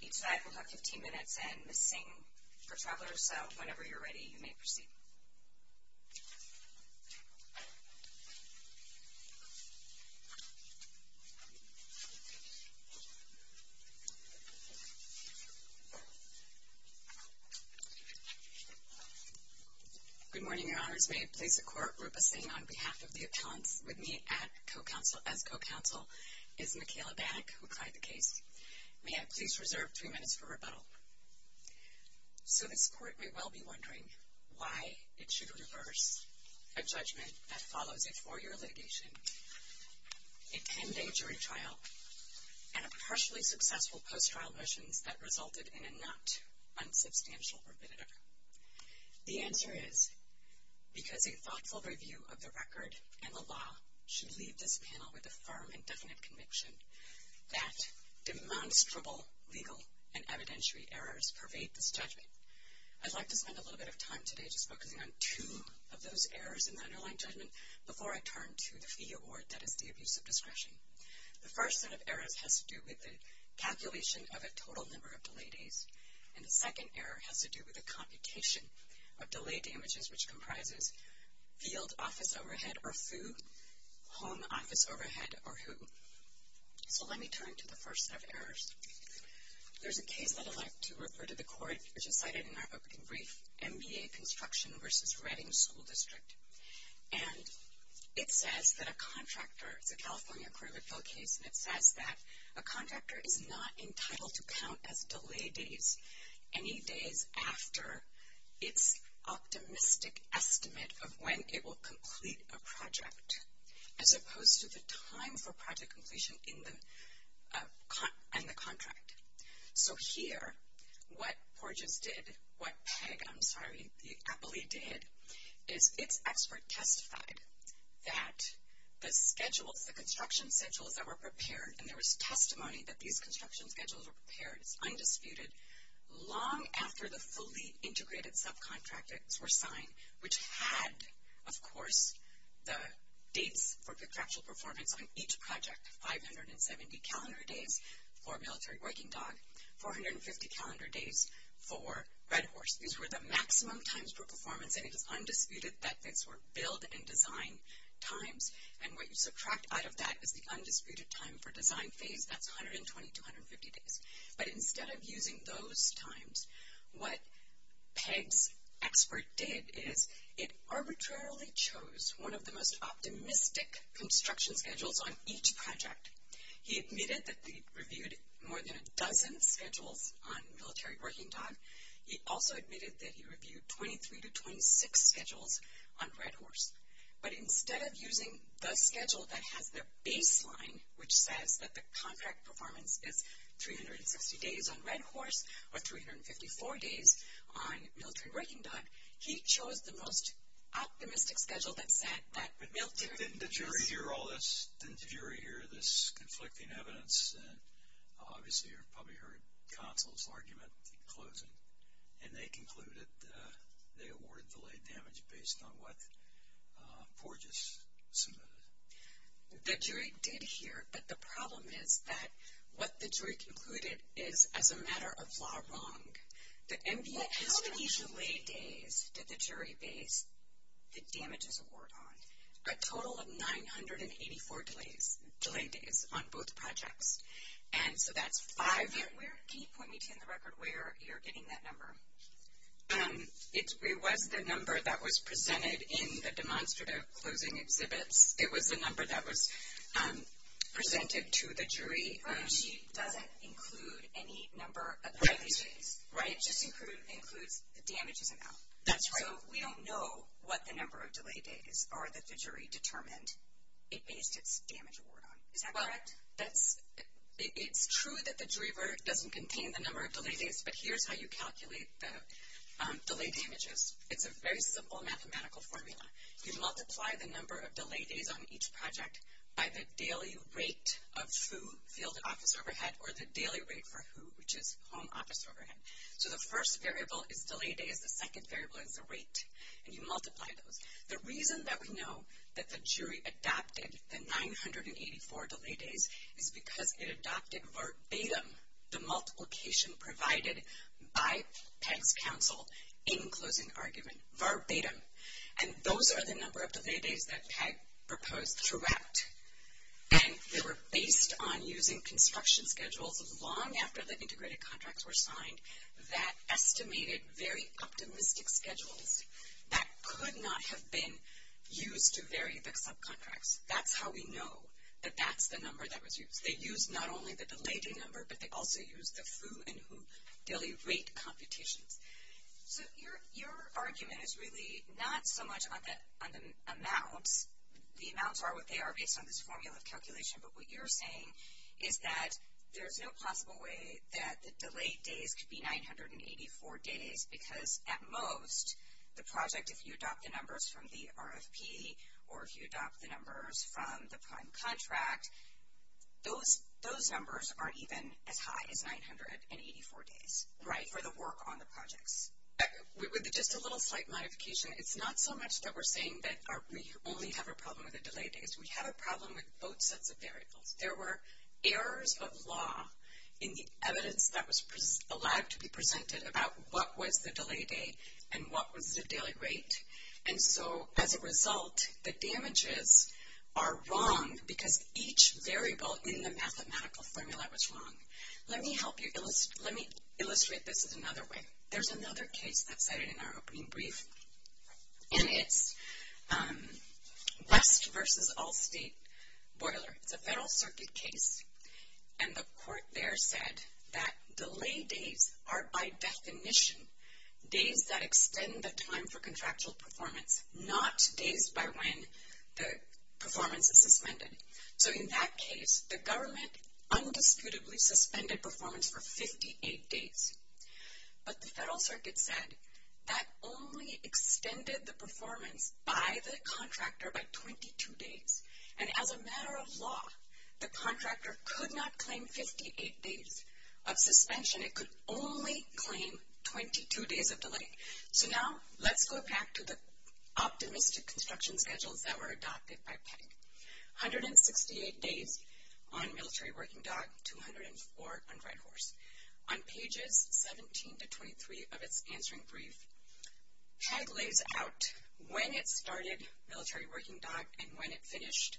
Each side will have 15 minutes, and Ms. Singh for Travelers, so whenever you're ready, you may proceed. Good morning, Your Honors. May it please the Court, Rupa Singh on behalf of the appellants with me as co-counsel is Michaela Bannock, who clied the case. May I please reserve three minutes for rebuttal? So this Court may well be wondering why it should reverse a judgment that follows a four-year litigation, a 10-day jury trial, and a partially successful post-trial motions that resulted in a not unsubstantial rebuttal. The answer is because a thoughtful review of the record and the law should leave this panel with a firm and definite conviction that demonstrable legal and evidentiary errors pervade this judgment. I'd like to spend a little bit of time today just focusing on two of those errors in the underlying judgment before I turn to the fee award that is the abuse of discretion. The first set of errors has to do with the calculation of a total number of delay days, and the second error has to do with the computation of delay damages, which comprises field office overhead or who, home office overhead or who. So let me turn to the first set of errors. There's a case that I'd like to refer to the Court, which is cited in our opening brief, MBA Construction v. Reading School District. And it says that a contractor, it's a California approved case, and it says that a contractor is not entitled to count as delay days any days after its optimistic estimate of when it will complete a project, as opposed to the time for project completion in the contract. So here, what PORGES did, what PEG, I'm sorry, the APLE did, is its expert testified that the schedules, the construction schedules that were prepared, and there was testimony that these construction schedules were prepared, it's undisputed, long after the fully integrated subcontractors were signed, which had, of course, the dates for contractual performance on each project, 570 calendar days for Military Working Dog, 450 calendar days for Red Horse. These were the maximum times for performance, and it is undisputed that these were build and design times, and what you subtract out of that is the undisputed time for design phase, that's 120 to 150 days. But instead of using those times, what PEG's expert did is it arbitrarily chose one of the most optimistic construction schedules on each project. He admitted that they reviewed more than a dozen schedules on Military Working Dog. He also admitted that he reviewed 23 to 26 schedules on Red Horse. But instead of using the schedule that has the baseline, which says that the contract performance is 360 days on Red Horse, or 354 days on Military Working Dog, he chose the most optimistic schedule that said that Military Working Dog is- Didn't the jury hear all this? Didn't the jury hear this conflicting evidence? Obviously, you probably heard counsel's argument in closing. And they concluded that they awarded the late damage based on what Porges submitted. The jury did hear, but the problem is that what the jury concluded is, as a matter of law, wrong. How many delay days did the jury base the damages award on? A total of 984 delay days on both projects. And so that's five- Can you point me to, on the record, where you're getting that number? It was the number that was presented in the demonstrative closing exhibits. It was the number that was presented to the jury. She doesn't include any number of delay days. Right. It just includes the damages amount. That's right. So we don't know what the number of delay days are that the jury determined it based its damage award on. Is that correct? Well, it's true that the jury verdict doesn't contain the number of delay days, but here's how you calculate the delay damages. It's a very simple mathematical formula. You multiply the number of delay days on each project by the daily rate of who filled the office overhead or the daily rate for who, which is home office overhead. So the first variable is delay days. The second variable is the rate, and you multiply those. The reason that we know that the jury adopted the 984 delay days is because it adopted verbatim the multiplication provided by Pegg's counsel in closing argument. Verbatim. And those are the number of delay days that Pegg proposed throughout, and they were based on using construction schedules long after the integrated contracts were signed that estimated very optimistic schedules that could not have been used to vary the subcontracts. That's how we know that that's the number that was used. They used not only the delay day number, but they also used the who and who daily rate computations. So your argument is really not so much on the amounts. The amounts are what they are based on this formula of calculation, but what you're saying is that there's no possible way that the delay days could be 984 days because at most the project, if you adopt the numbers from the RFP or if you adopt the numbers from the prime contract, those numbers aren't even as high as 984 days for the work on the projects. With just a little slight modification, it's not so much that we're saying that we only have a problem with the delay days. We have a problem with both sets of variables. There were errors of law in the evidence that was allowed to be presented about what was the delay day and what was the daily rate. And so as a result, the damages are wrong because each variable in the mathematical formula was wrong. Let me help you. Let me illustrate this is another way. There's another case that's cited in our opening brief, and it's West versus Allstate Boiler. It's a Federal Circuit case, and the court there said that delay days are by definition days that extend the time for contractual performance, not days by when the performance is suspended. So in that case, the government undisputedly suspended performance for 58 days. But the Federal Circuit said that only extended the performance by the contractor by 22 days. And as a matter of law, the contractor could not claim 58 days of suspension. It could only claim 22 days of delay. So now let's go back to the optimistic construction schedules that were adopted by PEG. 168 days on Military Working Dog, 204 on Red Horse. On pages 17 to 23 of its answering brief, PEG lays out when it started Military Working Dog and when it finished,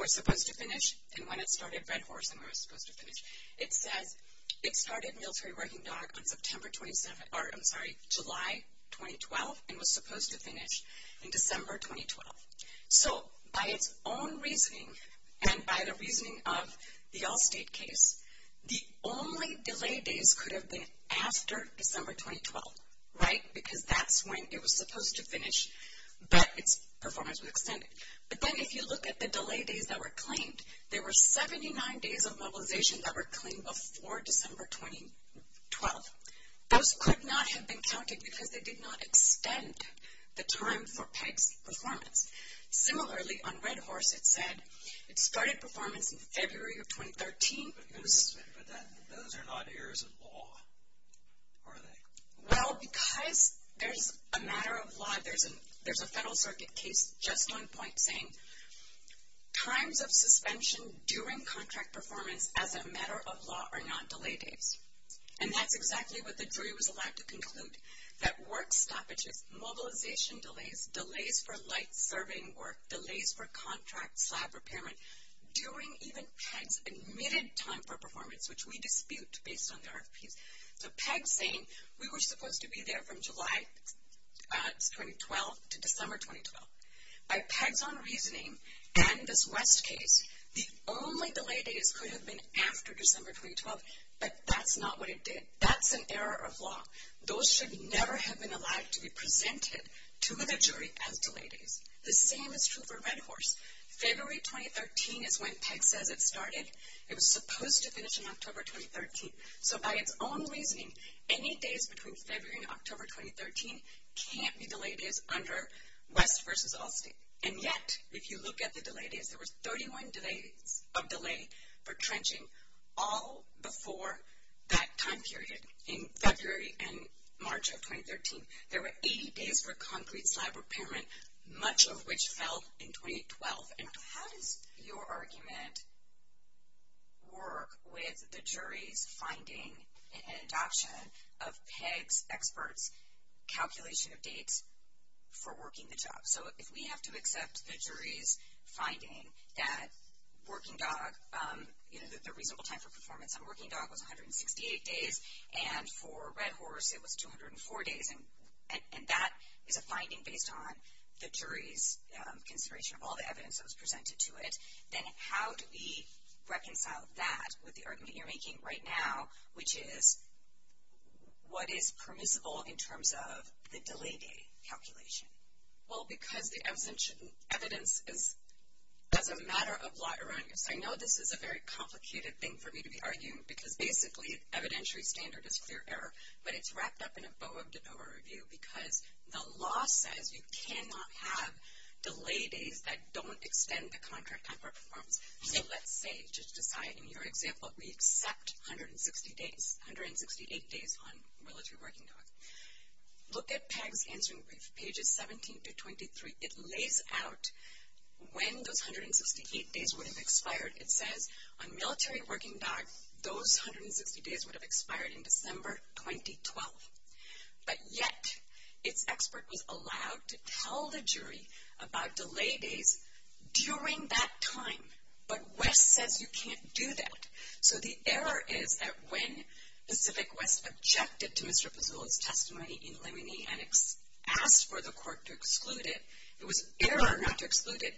or was supposed to finish, and when it started Red Horse and when it was supposed to finish. It says it started Military Working Dog on September 27th, or I'm sorry, July 2012, and was supposed to finish in December 2012. So by its own reasoning, and by the reasoning of the Allstate case, the only delay days could have been after December 2012, right? Because that's when it was supposed to finish, but its performance was extended. But then if you look at the delay days that were claimed, there were 79 days of mobilization that were claimed before December 2012. Those could not have been counted because they did not extend the time for PEG's performance. Similarly, on Red Horse it said it started performance in February of 2013. But those are not errors of law, are they? Well, because there's a matter of law, there's a Federal Circuit case just on point saying times of suspension during contract performance as a matter of law are not delay days. And that's exactly what the jury was allowed to conclude, that work stoppages, mobilization delays, delays for light serving work, delays for contract slab repairment, during even PEG's admitted time for performance, which we dispute based on the RFPs. So PEG's saying we were supposed to be there from July 2012 to December 2012. By PEG's own reasoning, and this West case, the only delay days could have been after December 2012, but that's not what it did. That's an error of law. Those should never have been allowed to be presented to the jury as delay days. The same is true for Red Horse. February 2013 is when PEG says it started. It was supposed to finish in October 2013. So by its own reasoning, any days between February and October 2013 can't be delay days under West v. Allstate. And yet, if you look at the delay days, there was 31 days of delay for trenching, all before that time period in February and March of 2013. There were 80 days for concrete slab repairment, much of which fell in 2012. And how does your argument work with the jury's finding and adoption of PEG's experts' calculation of dates for working the job? So if we have to accept the jury's finding that Working Dog, you know, the reasonable time for performance on Working Dog was 168 days, and for Red Horse it was 204 days, and that is a finding based on the jury's consideration of all the evidence that was presented to it, then how do we reconcile that with the argument you're making right now, which is what is permissible in terms of the delay day calculation? Well, because the evidence is, as a matter of law, erroneous. I know this is a very complicated thing for me to be arguing, because basically evidentiary standard is clear error, but it's wrapped up in a BOA review, because the law says you cannot have delay days that don't extend the contract time for performance. So let's say, just to cite your example, we accept 168 days on Relative Working Dog. Look at PEG's answering brief, pages 17 to 23. It lays out when those 168 days would have expired. It says on Military Working Dog, those 160 days would have expired in December 2012. But yet, its expert was allowed to tell the jury about delay days during that time, but West says you can't do that. So the error is that when Pacific West objected to Mr. Pezzulla's testimony in limine and asked for the court to exclude it, it was error not to exclude it,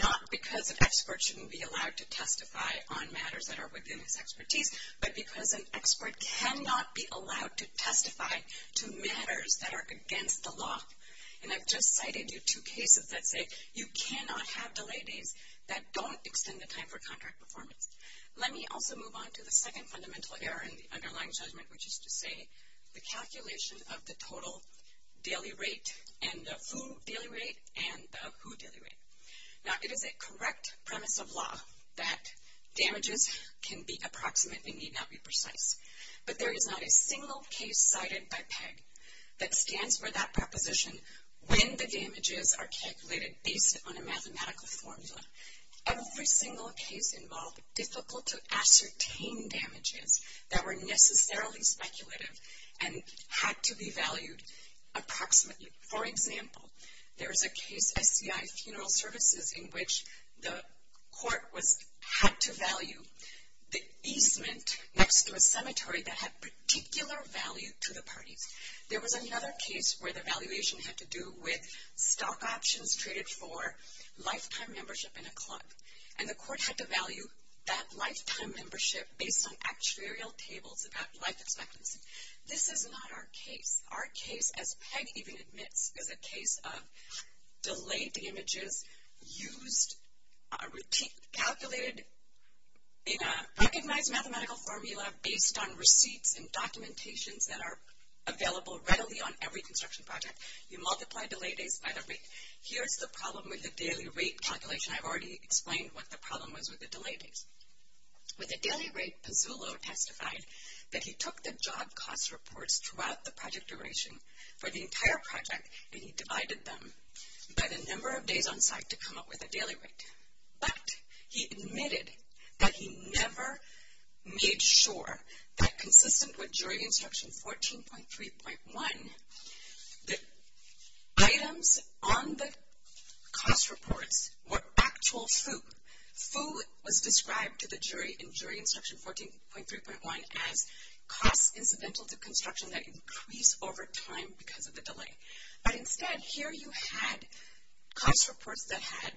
not because an expert shouldn't be allowed to testify on matters that are within his expertise, but because an expert cannot be allowed to testify to matters that are against the law. And I've just cited you two cases that say you cannot have delay days that don't extend the time for contract performance. Let me also move on to the second fundamental error in the underlying judgment, which is to say the calculation of the total daily rate and the who daily rate and the who daily rate. Now, it is a correct premise of law that damages can be approximate and need not be precise. But there is not a single case cited by PEG that stands for that proposition when the damages are calculated based on a mathematical formula. Every single case involved difficult to ascertain damages that were necessarily speculative and had to be valued approximately. For example, there is a case, SCI Funeral Services, in which the court had to value the easement next to a cemetery that had particular value to the parties. There was another case where the valuation had to do with stock options treated for lifetime membership in a club. And the court had to value that lifetime membership based on actuarial tables about life expectancy. This is not our case. Our case, as PEG even admits, is a case of delayed images used, calculated in a recognized mathematical formula based on receipts and documentations that are available readily on every construction project. You multiply delay days by the rate. Here's the problem with the daily rate calculation. I've already explained what the problem was with the delay days. With the daily rate, Pizzullo testified that he took the job cost reports throughout the project duration for the entire project and he divided them by the number of days on site to come up with a daily rate. But he admitted that he never made sure that consistent with jury instruction 14.3.1, the items on the cost reports were actual FOO. FOO was described to the jury in jury instruction 14.3.1 as costs incidental to construction that increase over time because of the delay. But instead, here you had cost reports that had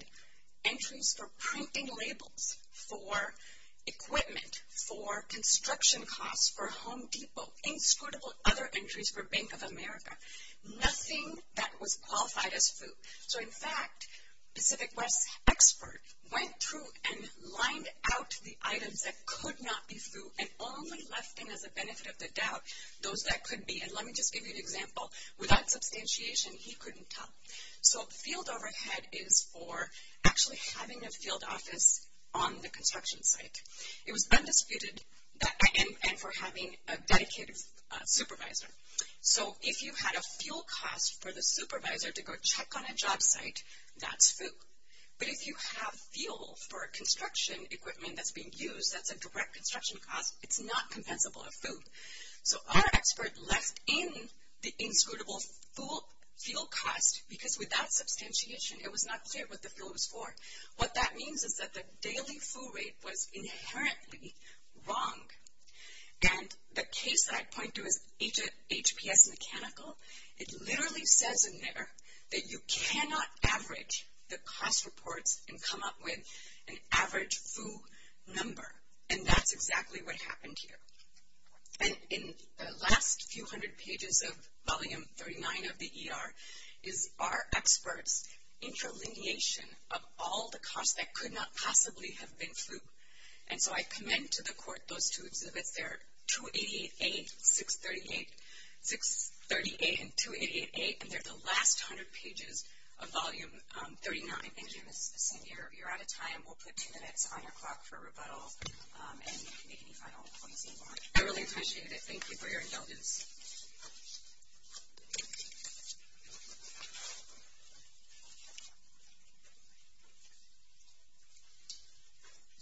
entries for printing labels for equipment, for construction costs, for Home Depot, inscrutable other entries for Bank of America, nothing that was qualified as FOO. So in fact, Pacific West's expert went through and lined out the items that could not be FOO and only left in as a benefit of the doubt those that could be. And let me just give you an example. Without substantiation, he couldn't tell. So field overhead is for actually having a field office on the construction site. It was undisputed and for having a dedicated supervisor. So if you had a field cost for the supervisor to go check on a job site, that's FOO. But if you have field for a construction equipment that's being used, that's a direct construction cost, it's not compensable of FOO. So our expert left in the inscrutable field cost because without substantiation, it was not clear what the field was for. What that means is that the daily FOO rate was inherently wrong. And the case that I point to is HPS Mechanical. It literally says in there that you cannot average the cost reports and come up with an average FOO number, and that's exactly what happened here. And in the last few hundred pages of volume 39 of the ER, is our expert's inter-lineation of all the costs that could not possibly have been FOO. And so I commend to the court those two exhibits there, 288A, 638, 638, and 288A. And they're the last hundred pages of volume 39. Thank you, Ms. Besson. You're out of time. We'll put two minutes on your clock for rebuttal and make any final points that you want. I really appreciate it. Thank you for your indulgence.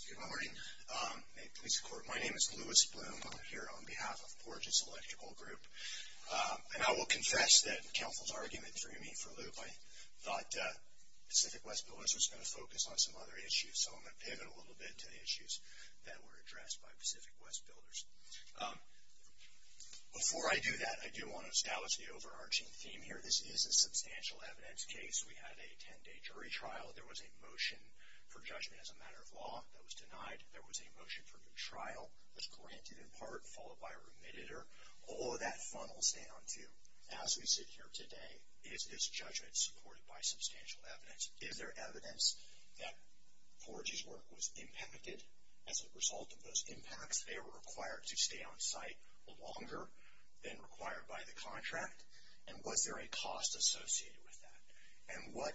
Good morning. May it please the court, my name is Louis Bloom. I'm here on behalf of Porch's Electrical Group. And I will confess that counsel's argument for me, for Luke, I thought Pacific West Builders was going to focus on some other issues, so I'm going to pivot a little bit to the issues that were addressed by Pacific West Builders. Before I do that, I do want to establish the overarching theme here. This is a substantial evidence case. We had a ten-day jury trial. There was a motion for judgment as a matter of law that was denied. There was a motion for new trial that was granted in part, followed by remitted. All of that funnels down to, as we sit here today, is this judgment supported by substantial evidence? Is there evidence that Porch's work was impacted as a result of those impacts? They were required to stay on site longer than required by the contract? And was there a cost associated with that? And what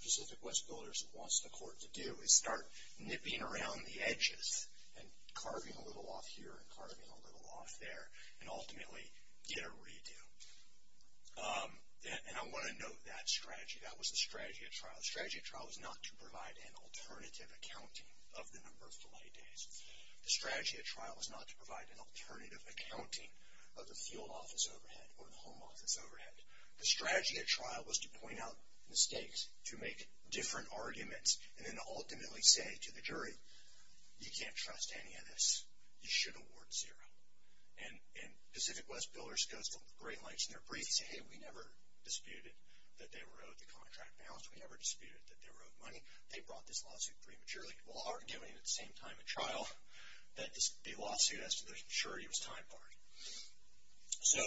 Pacific West Builders wants the court to do is start nipping around the edges and carving a little off here and carving a little off there and ultimately get a redo. And I want to note that strategy. That was the strategy at trial. The strategy at trial was not to provide an alternative accounting of the number of delay days. The strategy at trial was not to provide an alternative accounting of the field office overhead or the home office overhead. The strategy at trial was to point out mistakes, to make different arguments, and then ultimately say to the jury, you can't trust any of this. You should award zero. And Pacific West Builders goes to great lengths in their briefs to say, hey, we never disputed that they were owed the contract balance. We never disputed that they were owed money. They brought this lawsuit prematurely. While arguing at the same time at trial that the lawsuit, as to the maturity, was time barred. So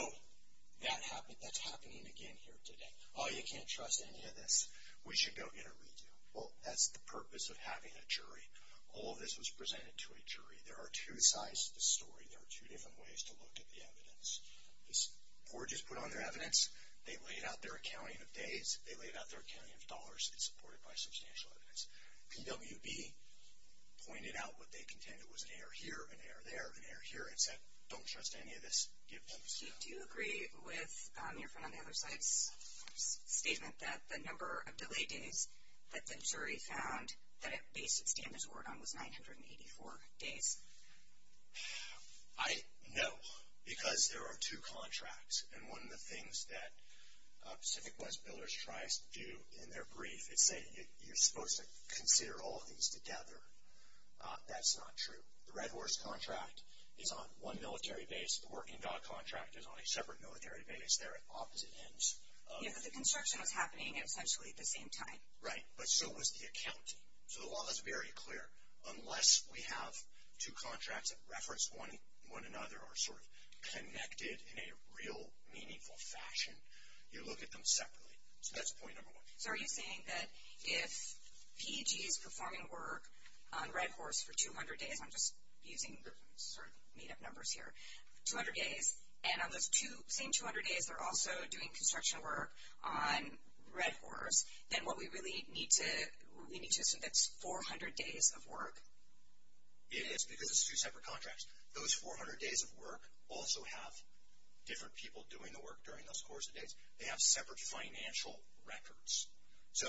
that's happening again here today. Oh, you can't trust any of this. We should go get a redo. Well, that's the purpose of having a jury. All of this was presented to a jury. There are two sides to the story. There are two different ways to look at the evidence. This board just put on their evidence. They laid out their accounting of days. They laid out their accounting of dollars. It's supported by substantial evidence. PWB pointed out what they contended was an error here, an error there, an error here, and said don't trust any of this. Give peace. Do you agree with your friend on the other side's statement that the number of delay days that the jury found that it based its standards award on was 984 days? I know because there are two contracts. And one of the things that Pacific West Builders tries to do in their brief is say, you're supposed to consider all of these together. That's not true. The Red Horse contract is on one military base. The Working Dog contract is on a separate military base. They're at opposite ends. Yeah, but the construction was happening essentially at the same time. Right, but so was the accounting. So the law is very clear. Unless we have two contracts that reference one another or are sort of connected in a real meaningful fashion, you look at them separately. So that's point number one. So are you saying that if PEG is performing work on Red Horse for 200 days, I'm just using sort of made-up numbers here, 200 days, and on those same 200 days they're also doing construction work on Red Horse, then what we really need to assume that's 400 days of work. It is because it's two separate contracts. Those 400 days of work also have different people doing the work during those course of days. They have separate financial records. So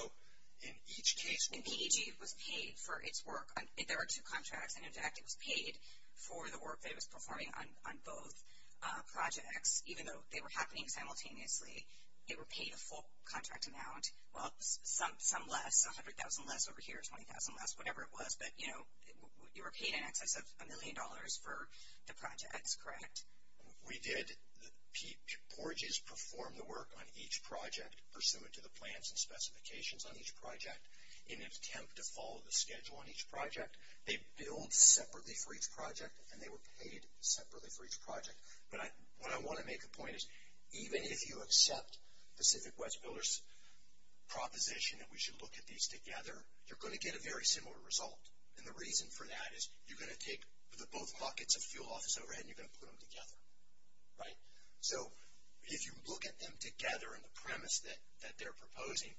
in each case where PEG was paid for its work, if there were two contracts and, in fact, it was paid for the work that it was performing on both projects, even though they were happening simultaneously, they were paid a full contract amount. Well, some less, 100,000 less over here, 20,000 less, whatever it was. But, you know, you were paid in excess of a million dollars for the projects, correct? We did. PORGES performed the work on each project pursuant to the plans and specifications on each project. In an attempt to follow the schedule on each project, they billed separately for each project, and they were paid separately for each project. But what I want to make the point is even if you accept Pacific West Builders' proposition that we should look at these together, you're going to get a very similar result. And the reason for that is you're going to take both buckets of fuel off this overhead and you're going to put them together, right? So if you look at them together and the premise that they're proposing,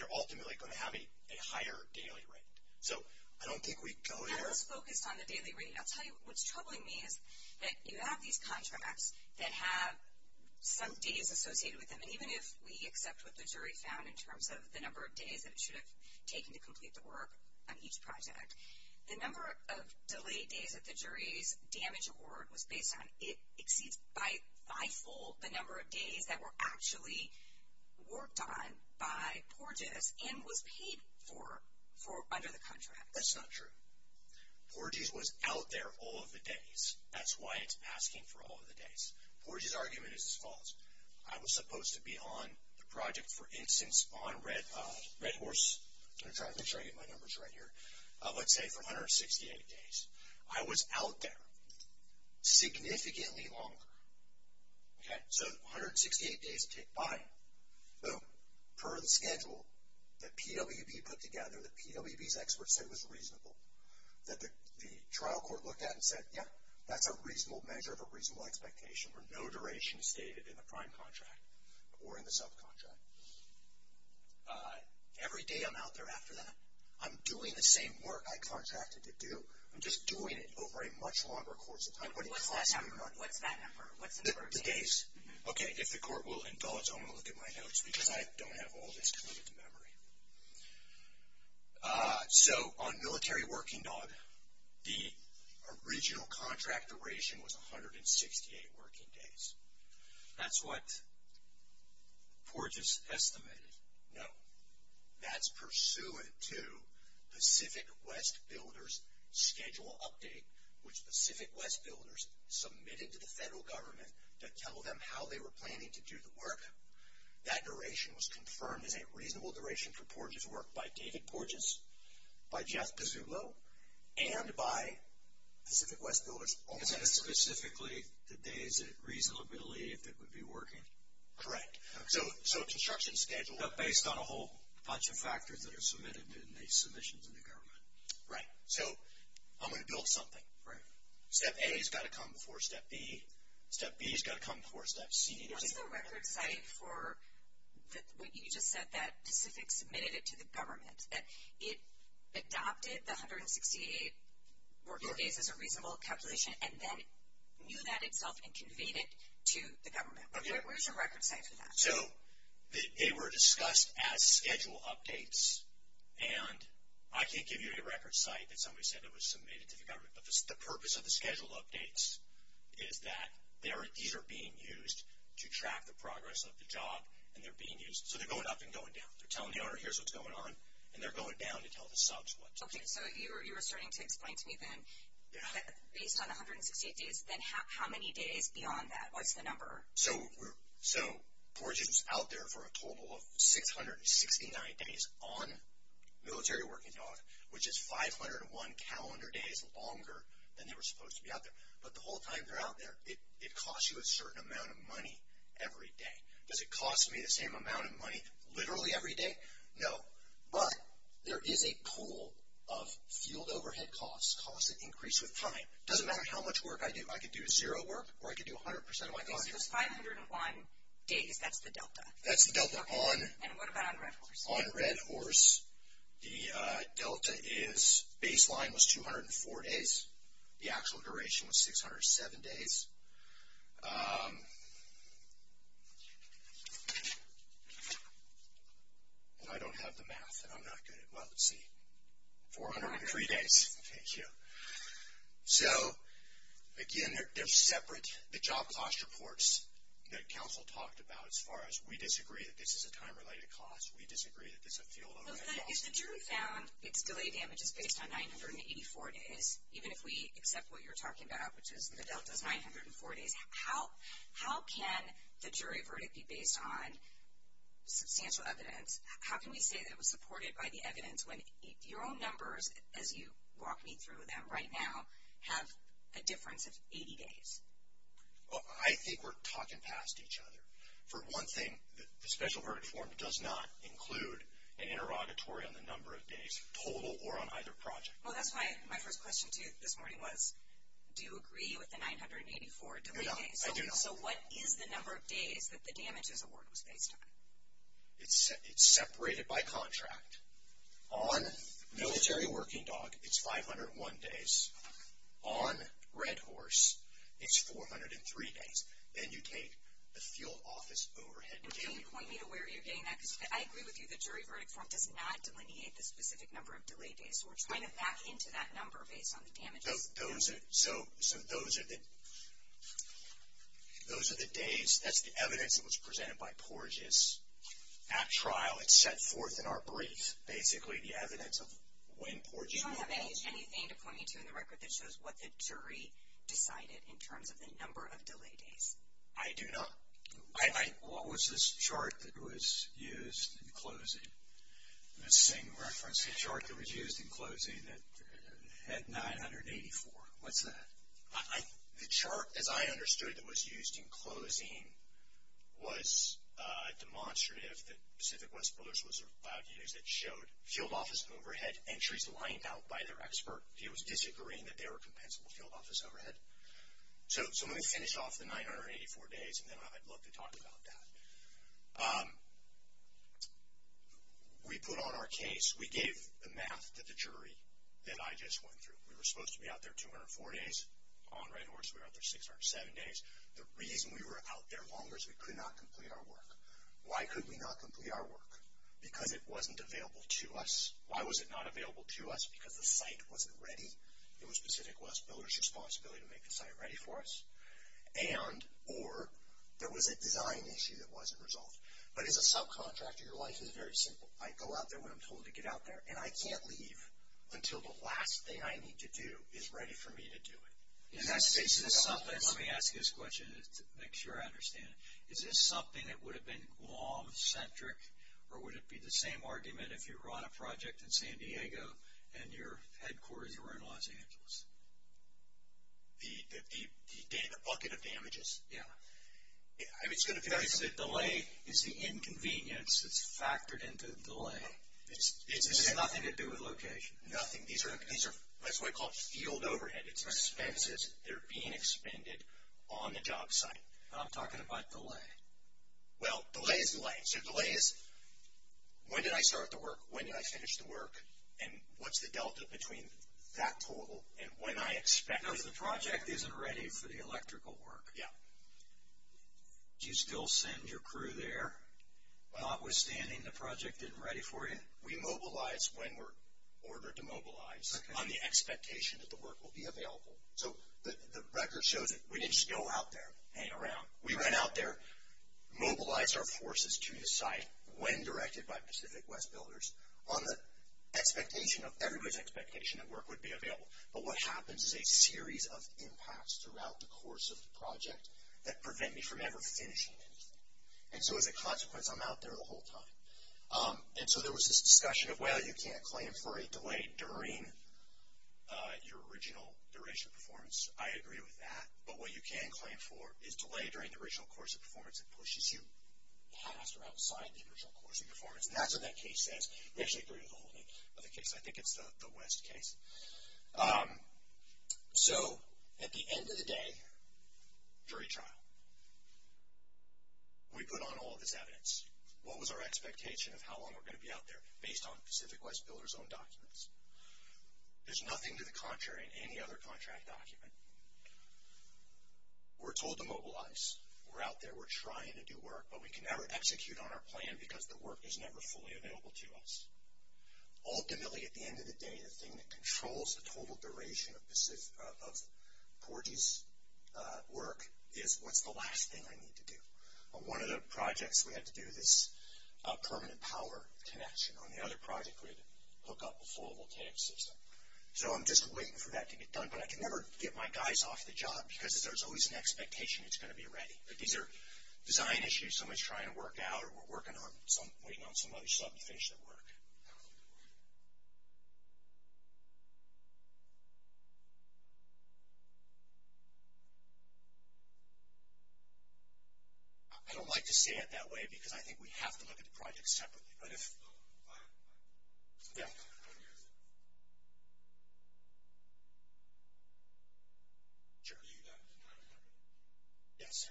you're ultimately going to have a higher daily rate. So I don't think we go there. I was focused on the daily rate. I'll tell you what's troubling me is that you have these contracts that have some days associated with them. And even if we accept what the jury found in terms of the number of days that it should have taken to complete the work on each project, the number of delayed days that the jury's damage award was based on, it exceeds by five-fold the number of days that were actually worked on by Porges and was paid for under the contract. That's not true. Porges was out there all of the days. That's why it's asking for all of the days. Porges' argument is as follows. I was supposed to be on the project, for instance, on Red Horse. I'm trying to make sure I get my numbers right here. Let's say for 168 days. I was out there significantly longer. So 168 days tick by. Boom. Per the schedule that PWB put together, that PWB's experts said was reasonable, that the trial court looked at and said, yeah, that's a reasonable measure of a reasonable expectation where no duration is stated in the prime contract or in the subcontract. Every day I'm out there after that, I'm doing the same work I contracted to do. I'm just doing it over a much longer course of time. What's that number? What's the number? The days. Okay, if the court will indulge, I'm going to look at my notes because I don't have all this committed to memory. So on Military Working Dog, the original contract duration was 168 working days. That's what Porges estimated. No. That's pursuant to Pacific West Builders Schedule update, which Pacific West Builders submitted to the federal government to tell them how they were planning to do the work. That duration was confirmed as a reasonable duration for Porges' work by David Porges, by Jeff Pizzullo, and by Pacific West Builders. Is that specifically the days that reasonably if it would be working? Correct. Okay, so construction schedule. But based on a whole bunch of factors that are submitted in the submissions in the government. Right. So I'm going to build something. Right. Step A has got to come before step B. Step B has got to come before step C. What's the record site for what you just said that Pacific submitted it to the government? It adopted the 168 working days as a reasonable calculation and then knew that itself and conveyed it to the government. Okay. Where's the record site for that? So they were discussed as schedule updates, and I can't give you a record site that somebody said it was submitted to the government. But the purpose of the schedule updates is that these are being used to track the progress of the job, and they're being used. So they're going up and going down. They're telling the owner here's what's going on, and they're going down to tell the subs what to do. Okay, so you were starting to explain to me then that based on the 168 days, then how many days beyond that? What's the number? So Porgy's out there for a total of 669 days on Military Working Dog, which is 501 calendar days longer than they were supposed to be out there. But the whole time they're out there, it costs you a certain amount of money every day. Does it cost me the same amount of money literally every day? No. But there is a pool of field overhead costs, costs that increase with time. It doesn't matter how much work I do. I could do zero work, or I could do 100% of my time. So it's 501 days. That's the delta. That's the delta. And what about on Red Horse? On Red Horse, the delta is baseline was 204 days. The actual duration was 607 days. I don't have the math, and I'm not good at it. Well, let's see. 403 days. Thank you. So, again, they're separate. The job cost reports that counsel talked about, as far as we disagree that this is a time-related cost, we disagree that this is a field overhead cost. But if the jury found its delay damage is based on 984 days, even if we accept what you're talking about, which is the delta is 904 days, how can the jury verdict be based on substantial evidence? How can we say that it was supported by the evidence when your own numbers, as you walk me through them right now, have a difference of 80 days? Well, I think we're talking past each other. For one thing, the special verdict form does not include an interrogatory on the number of days total or on either project. Well, that's why my first question to you this morning was, do you agree with the 984 delay days? No, I do not. So what is the number of days that the damages award was based on? It's separated by contract. On Military Working Dog, it's 501 days. On Red Horse, it's 403 days. Then you take the field office overhead. Can you point me to where you're getting that? Because I agree with you the jury verdict form does not delineate the specific number of delay days. So we're trying to back into that number based on the damages. So those are the days. That's the evidence that was presented by Porges at trial. It's set forth in our brief, basically, the evidence of when Porges was. Do you have anything to point me to in the record that shows what the jury decided in terms of the number of delay days? I do not. What was this chart that was used in closing? The same reference chart that was used in closing that had 984. What's that? The chart, as I understood, that was used in closing was a demonstrative that Pacific West Brothers was allowed to use that showed field office overhead entries lined out by their expert. He was disagreeing that they were compensable field office overhead. So let me finish off the 984 days, and then I'd love to talk about that. We put on our case. We gave the math to the jury that I just went through. We were supposed to be out there 204 days on Red Horse. We were out there 607 days. The reason we were out there longer is we could not complete our work. Why could we not complete our work? Because it wasn't available to us. Why was it not available to us? Because the site wasn't ready. It was Pacific West Builders' responsibility to make the site ready for us. Or there was a design issue that wasn't resolved. But as a subcontractor, your life is very simple. I go out there when I'm told to get out there, and I can't leave until the last thing I need to do is ready for me to do it. Let me ask you this question to make sure I understand it. Is this something that would have been law-centric, or would it be the same argument if you were on a project in San Diego and your headquarters were in Los Angeles? The bucket of damages? Yeah. The delay is the inconvenience that's factored into the delay. It has nothing to do with location. Nothing. That's why we call it field overhead. It's expenses that are being expended on the job site. I'm talking about delay. Well, delay is delay. So delay is when did I start the work, when did I finish the work, and what's the delta between that total and when I expect it? Because the project isn't ready for the electrical work. Yeah. Do you still send your crew there notwithstanding the project isn't ready for you? We mobilize when we're ordered to mobilize on the expectation that the work will be available. So the record shows that we didn't just go out there and hang around. We went out there, mobilized our forces to the site when directed by Pacific West Builders. On the expectation of everybody's expectation that work would be available. But what happens is a series of impacts throughout the course of the project that prevent me from ever finishing anything. And so as a consequence, I'm out there the whole time. And so there was this discussion of, well, you can't claim for a delay during your original duration of performance. I agree with that. But what you can claim for is delay during the original course of performance that pushes you past or outside the original course of performance. And that's what that case says. We actually agree with the whole name of the case. I think it's the West case. So at the end of the day, jury trial. We put on all of this evidence. What was our expectation of how long we're going to be out there based on Pacific West Builders' own documents? There's nothing to the contrary in any other contract document. We're told to mobilize. We're out there. We're trying to do work. But we can never execute on our plan because the work is never fully available to us. Ultimately, at the end of the day, the thing that controls the total duration of Porgy's work is, what's the last thing I need to do? On one of the projects, we had to do this permanent power connection. On the other project, we had to hook up a flowable tank system. So I'm just waiting for that to get done. But I can never get my guys off the job because there's always an expectation it's going to be ready. These are design issues somebody's trying to work out, or we're waiting on somebody to finish their work. I don't like to say it that way because I think we have to look at the project separately. Yeah. Sure. Yes.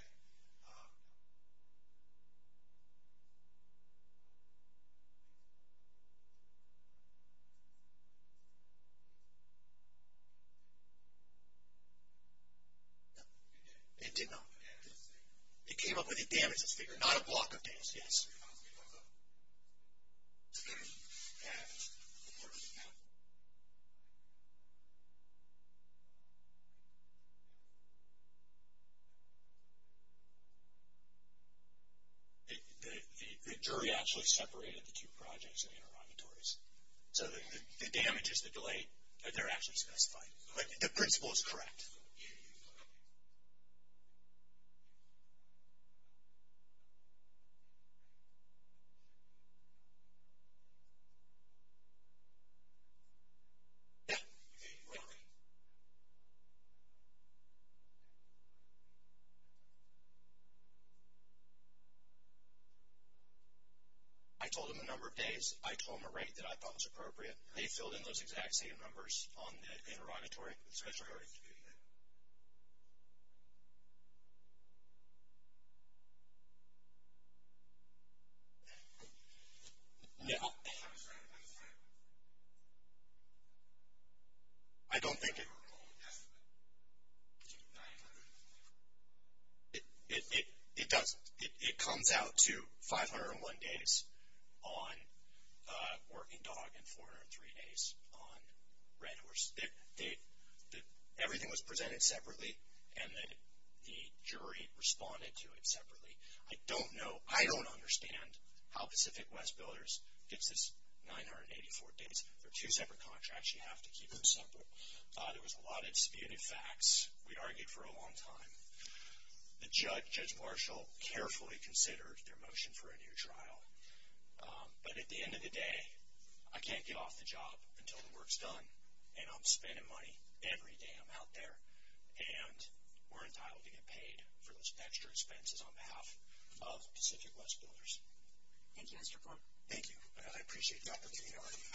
It did not. It came up with a damages figure, not a block of damages. Yes. The jury actually separated the two projects in the interrogatories. So the damages, the delay, they're actually specified. The principle is correct. Yeah. I told them the number of days. I told them a rate that I thought was appropriate. They filled in those exact same numbers on the interrogatory. No. I don't think it. It doesn't. It comes out to 501 days on Working Dog and 403 days on Red Horse. Everything was presented separately, and the jury responded to it separately. I don't know. I don't understand how Pacific West Builders gets this 984 days. They're two separate contracts. You have to keep them separate. There was a lot of disputed facts. We argued for a long time. The judge, Judge Marshall, carefully considered their motion for a new trial. But at the end of the day, I can't get off the job until the work's done, and I'm spending money every day I'm out there, and we're entitled to get paid for those extra expenses on behalf of Pacific West Builders. Thank you, Mr. Corn. Thank you. I appreciate that opportunity already.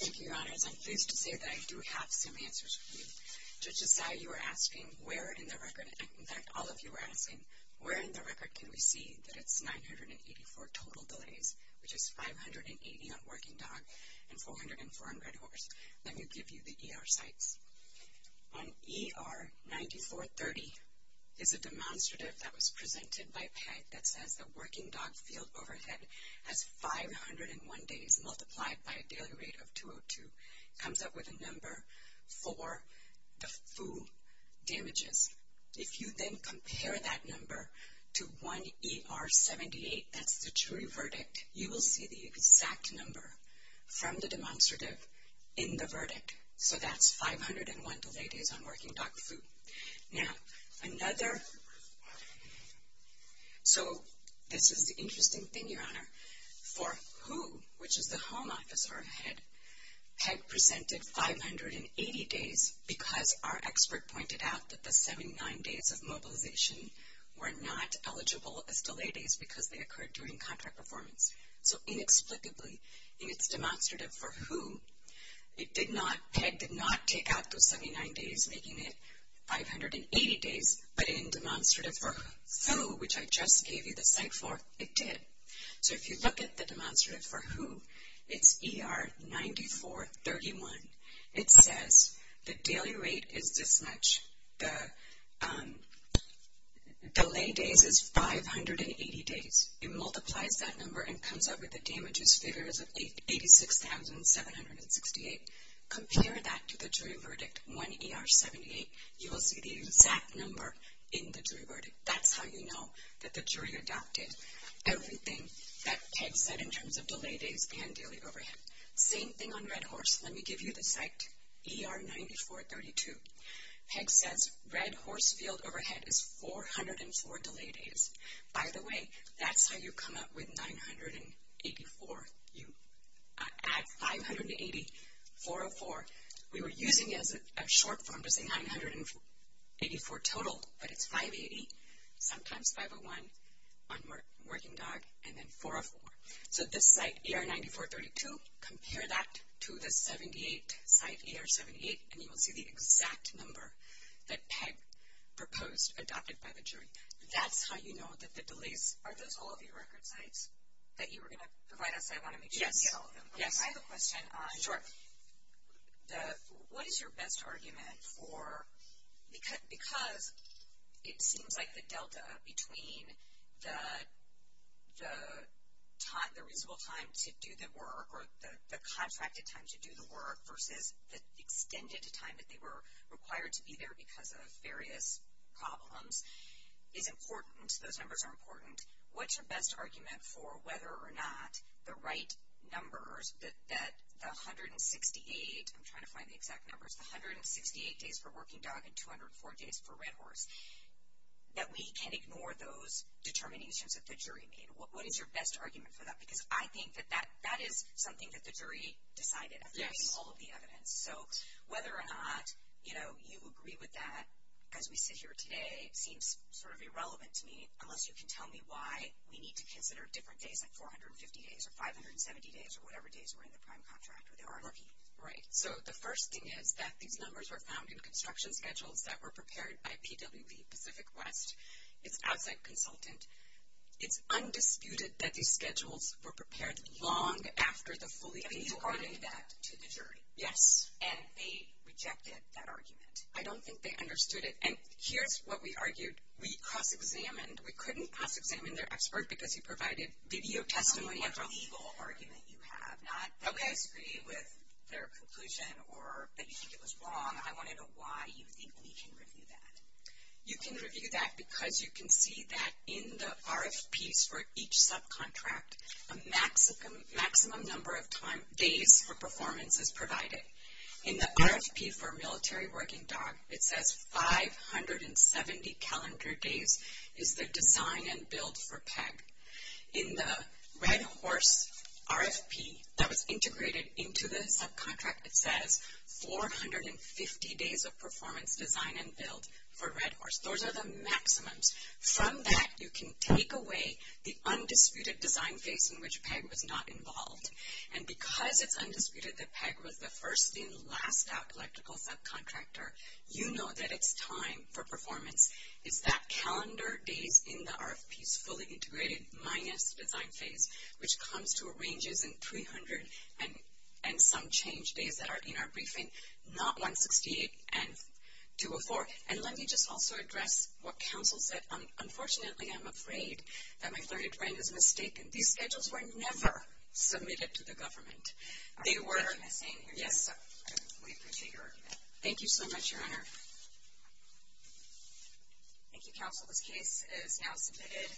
Thank you, Your Honors. I'm pleased to say that I do have some answers for you. Judge Esai, you were asking where in the record, in fact, all of you were asking, where in the record can we see that it's 984 total delays, which is 580 on Working Dog and 400 on Red Horse? Let me give you the ER sites. On ER 9430 is a demonstrative that was presented by Peg that says that Working Dog field overhead has 501 days multiplied by a daily rate of 202. It comes up with a number for the FOO damages. If you then compare that number to 1ER78, that's the jury verdict, you will see the exact number from the demonstrative in the verdict. So that's 501 delayed days on Working Dog FOO. Now, another, so this is the interesting thing, Your Honor. For WHO, which is the Home Office, our head, presented 580 days because our expert pointed out that the 79 days of mobilization were not eligible as delay days because they occurred during contract performance. So inexplicably, in its demonstrative for WHO, it did not, Peg did not take out those 79 days, making it 580 days, but in demonstrative for FOO, which I just gave you the site for, it did. So if you look at the demonstrative for WHO, it's ER9431. It says the daily rate is this much. The delay days is 580 days. It multiplies that number and comes up with the damages figures of 86,768. Compare that to the jury verdict, 1ER78. You will see the exact number in the jury verdict. That's how you know that the jury adopted everything that Peg said in terms of delay days and daily overhead. Same thing on Red Horse. Let me give you the site, ER9432. Peg says Red Horse field overhead is 404 delay days. By the way, that's how you come up with 984. You add 580, 404. We were using it as a short form to say 984 total, but it's 580, sometimes 501 on Working Dog, and then 404. So this site, ER9432, compare that to the 78 site, ER78, and you will see the exact number that Peg proposed, adopted by the jury. That's how you know that the delays are those all of your record sites that you were going to provide us. I want to make sure we get all of them. I have a question on what is your best argument for, because it seems like the delta between the reasonable time to do the work or the contracted time to do the work versus the extended time that they were required to be there because of various problems is important. Those numbers are important. What's your best argument for whether or not the right numbers that the 168, I'm trying to find the exact numbers, the 168 days for Working Dog and 204 days for Red Horse, that we can ignore those determinations that the jury made? What is your best argument for that? Because I think that that is something that the jury decided after seeing all of the evidence. So whether or not, you know, you agree with that, as we sit here today, it seems sort of irrelevant to me unless you can tell me why we need to consider different days, like 450 days or 570 days or whatever days were in the prime contract or the RRP. Right. So the first thing is that these numbers were found in construction schedules that were prepared by PWP Pacific West. It's outside consultant. It's undisputed that these schedules were prepared long after the fully completed work. And you argued that to the jury? Yes. And they rejected that argument? I don't think they understood it. And here's what we argued. We cross-examined. We couldn't cross-examine their expert because he provided video testimony after all. That's a legal argument you have, not that we disagree with their conclusion or that you think it was wrong. I want to know why you think we can review that. You can review that because you can see that in the RFPs for each subcontract, a maximum number of days for performance is provided. In the RFP for Military Working Dog, it says 570 calendar days is the design and build for PEG. In the Red Horse RFP that was integrated into the subcontract, it says 450 days of performance design and build for Red Horse. Those are the maximums. From that, you can take away the undisputed design phase in which PEG was not involved. And because it's undisputed that PEG was the first and last out electrical subcontractor, you know that it's time for performance. It's that calendar days in the RFPs fully integrated minus design phase, which comes to a range in 300 and some change days that are in our briefing, not 168 and 204. And let me just also address what counsel said. Unfortunately, I'm afraid that my flirted friend is mistaken. These schedules were never submitted to the government. They were. Are you sure? Yes. We appreciate your argument. Thank you so much, Your Honor. Thank you, counsel. This case is now submitted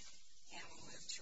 and we'll move to a vote.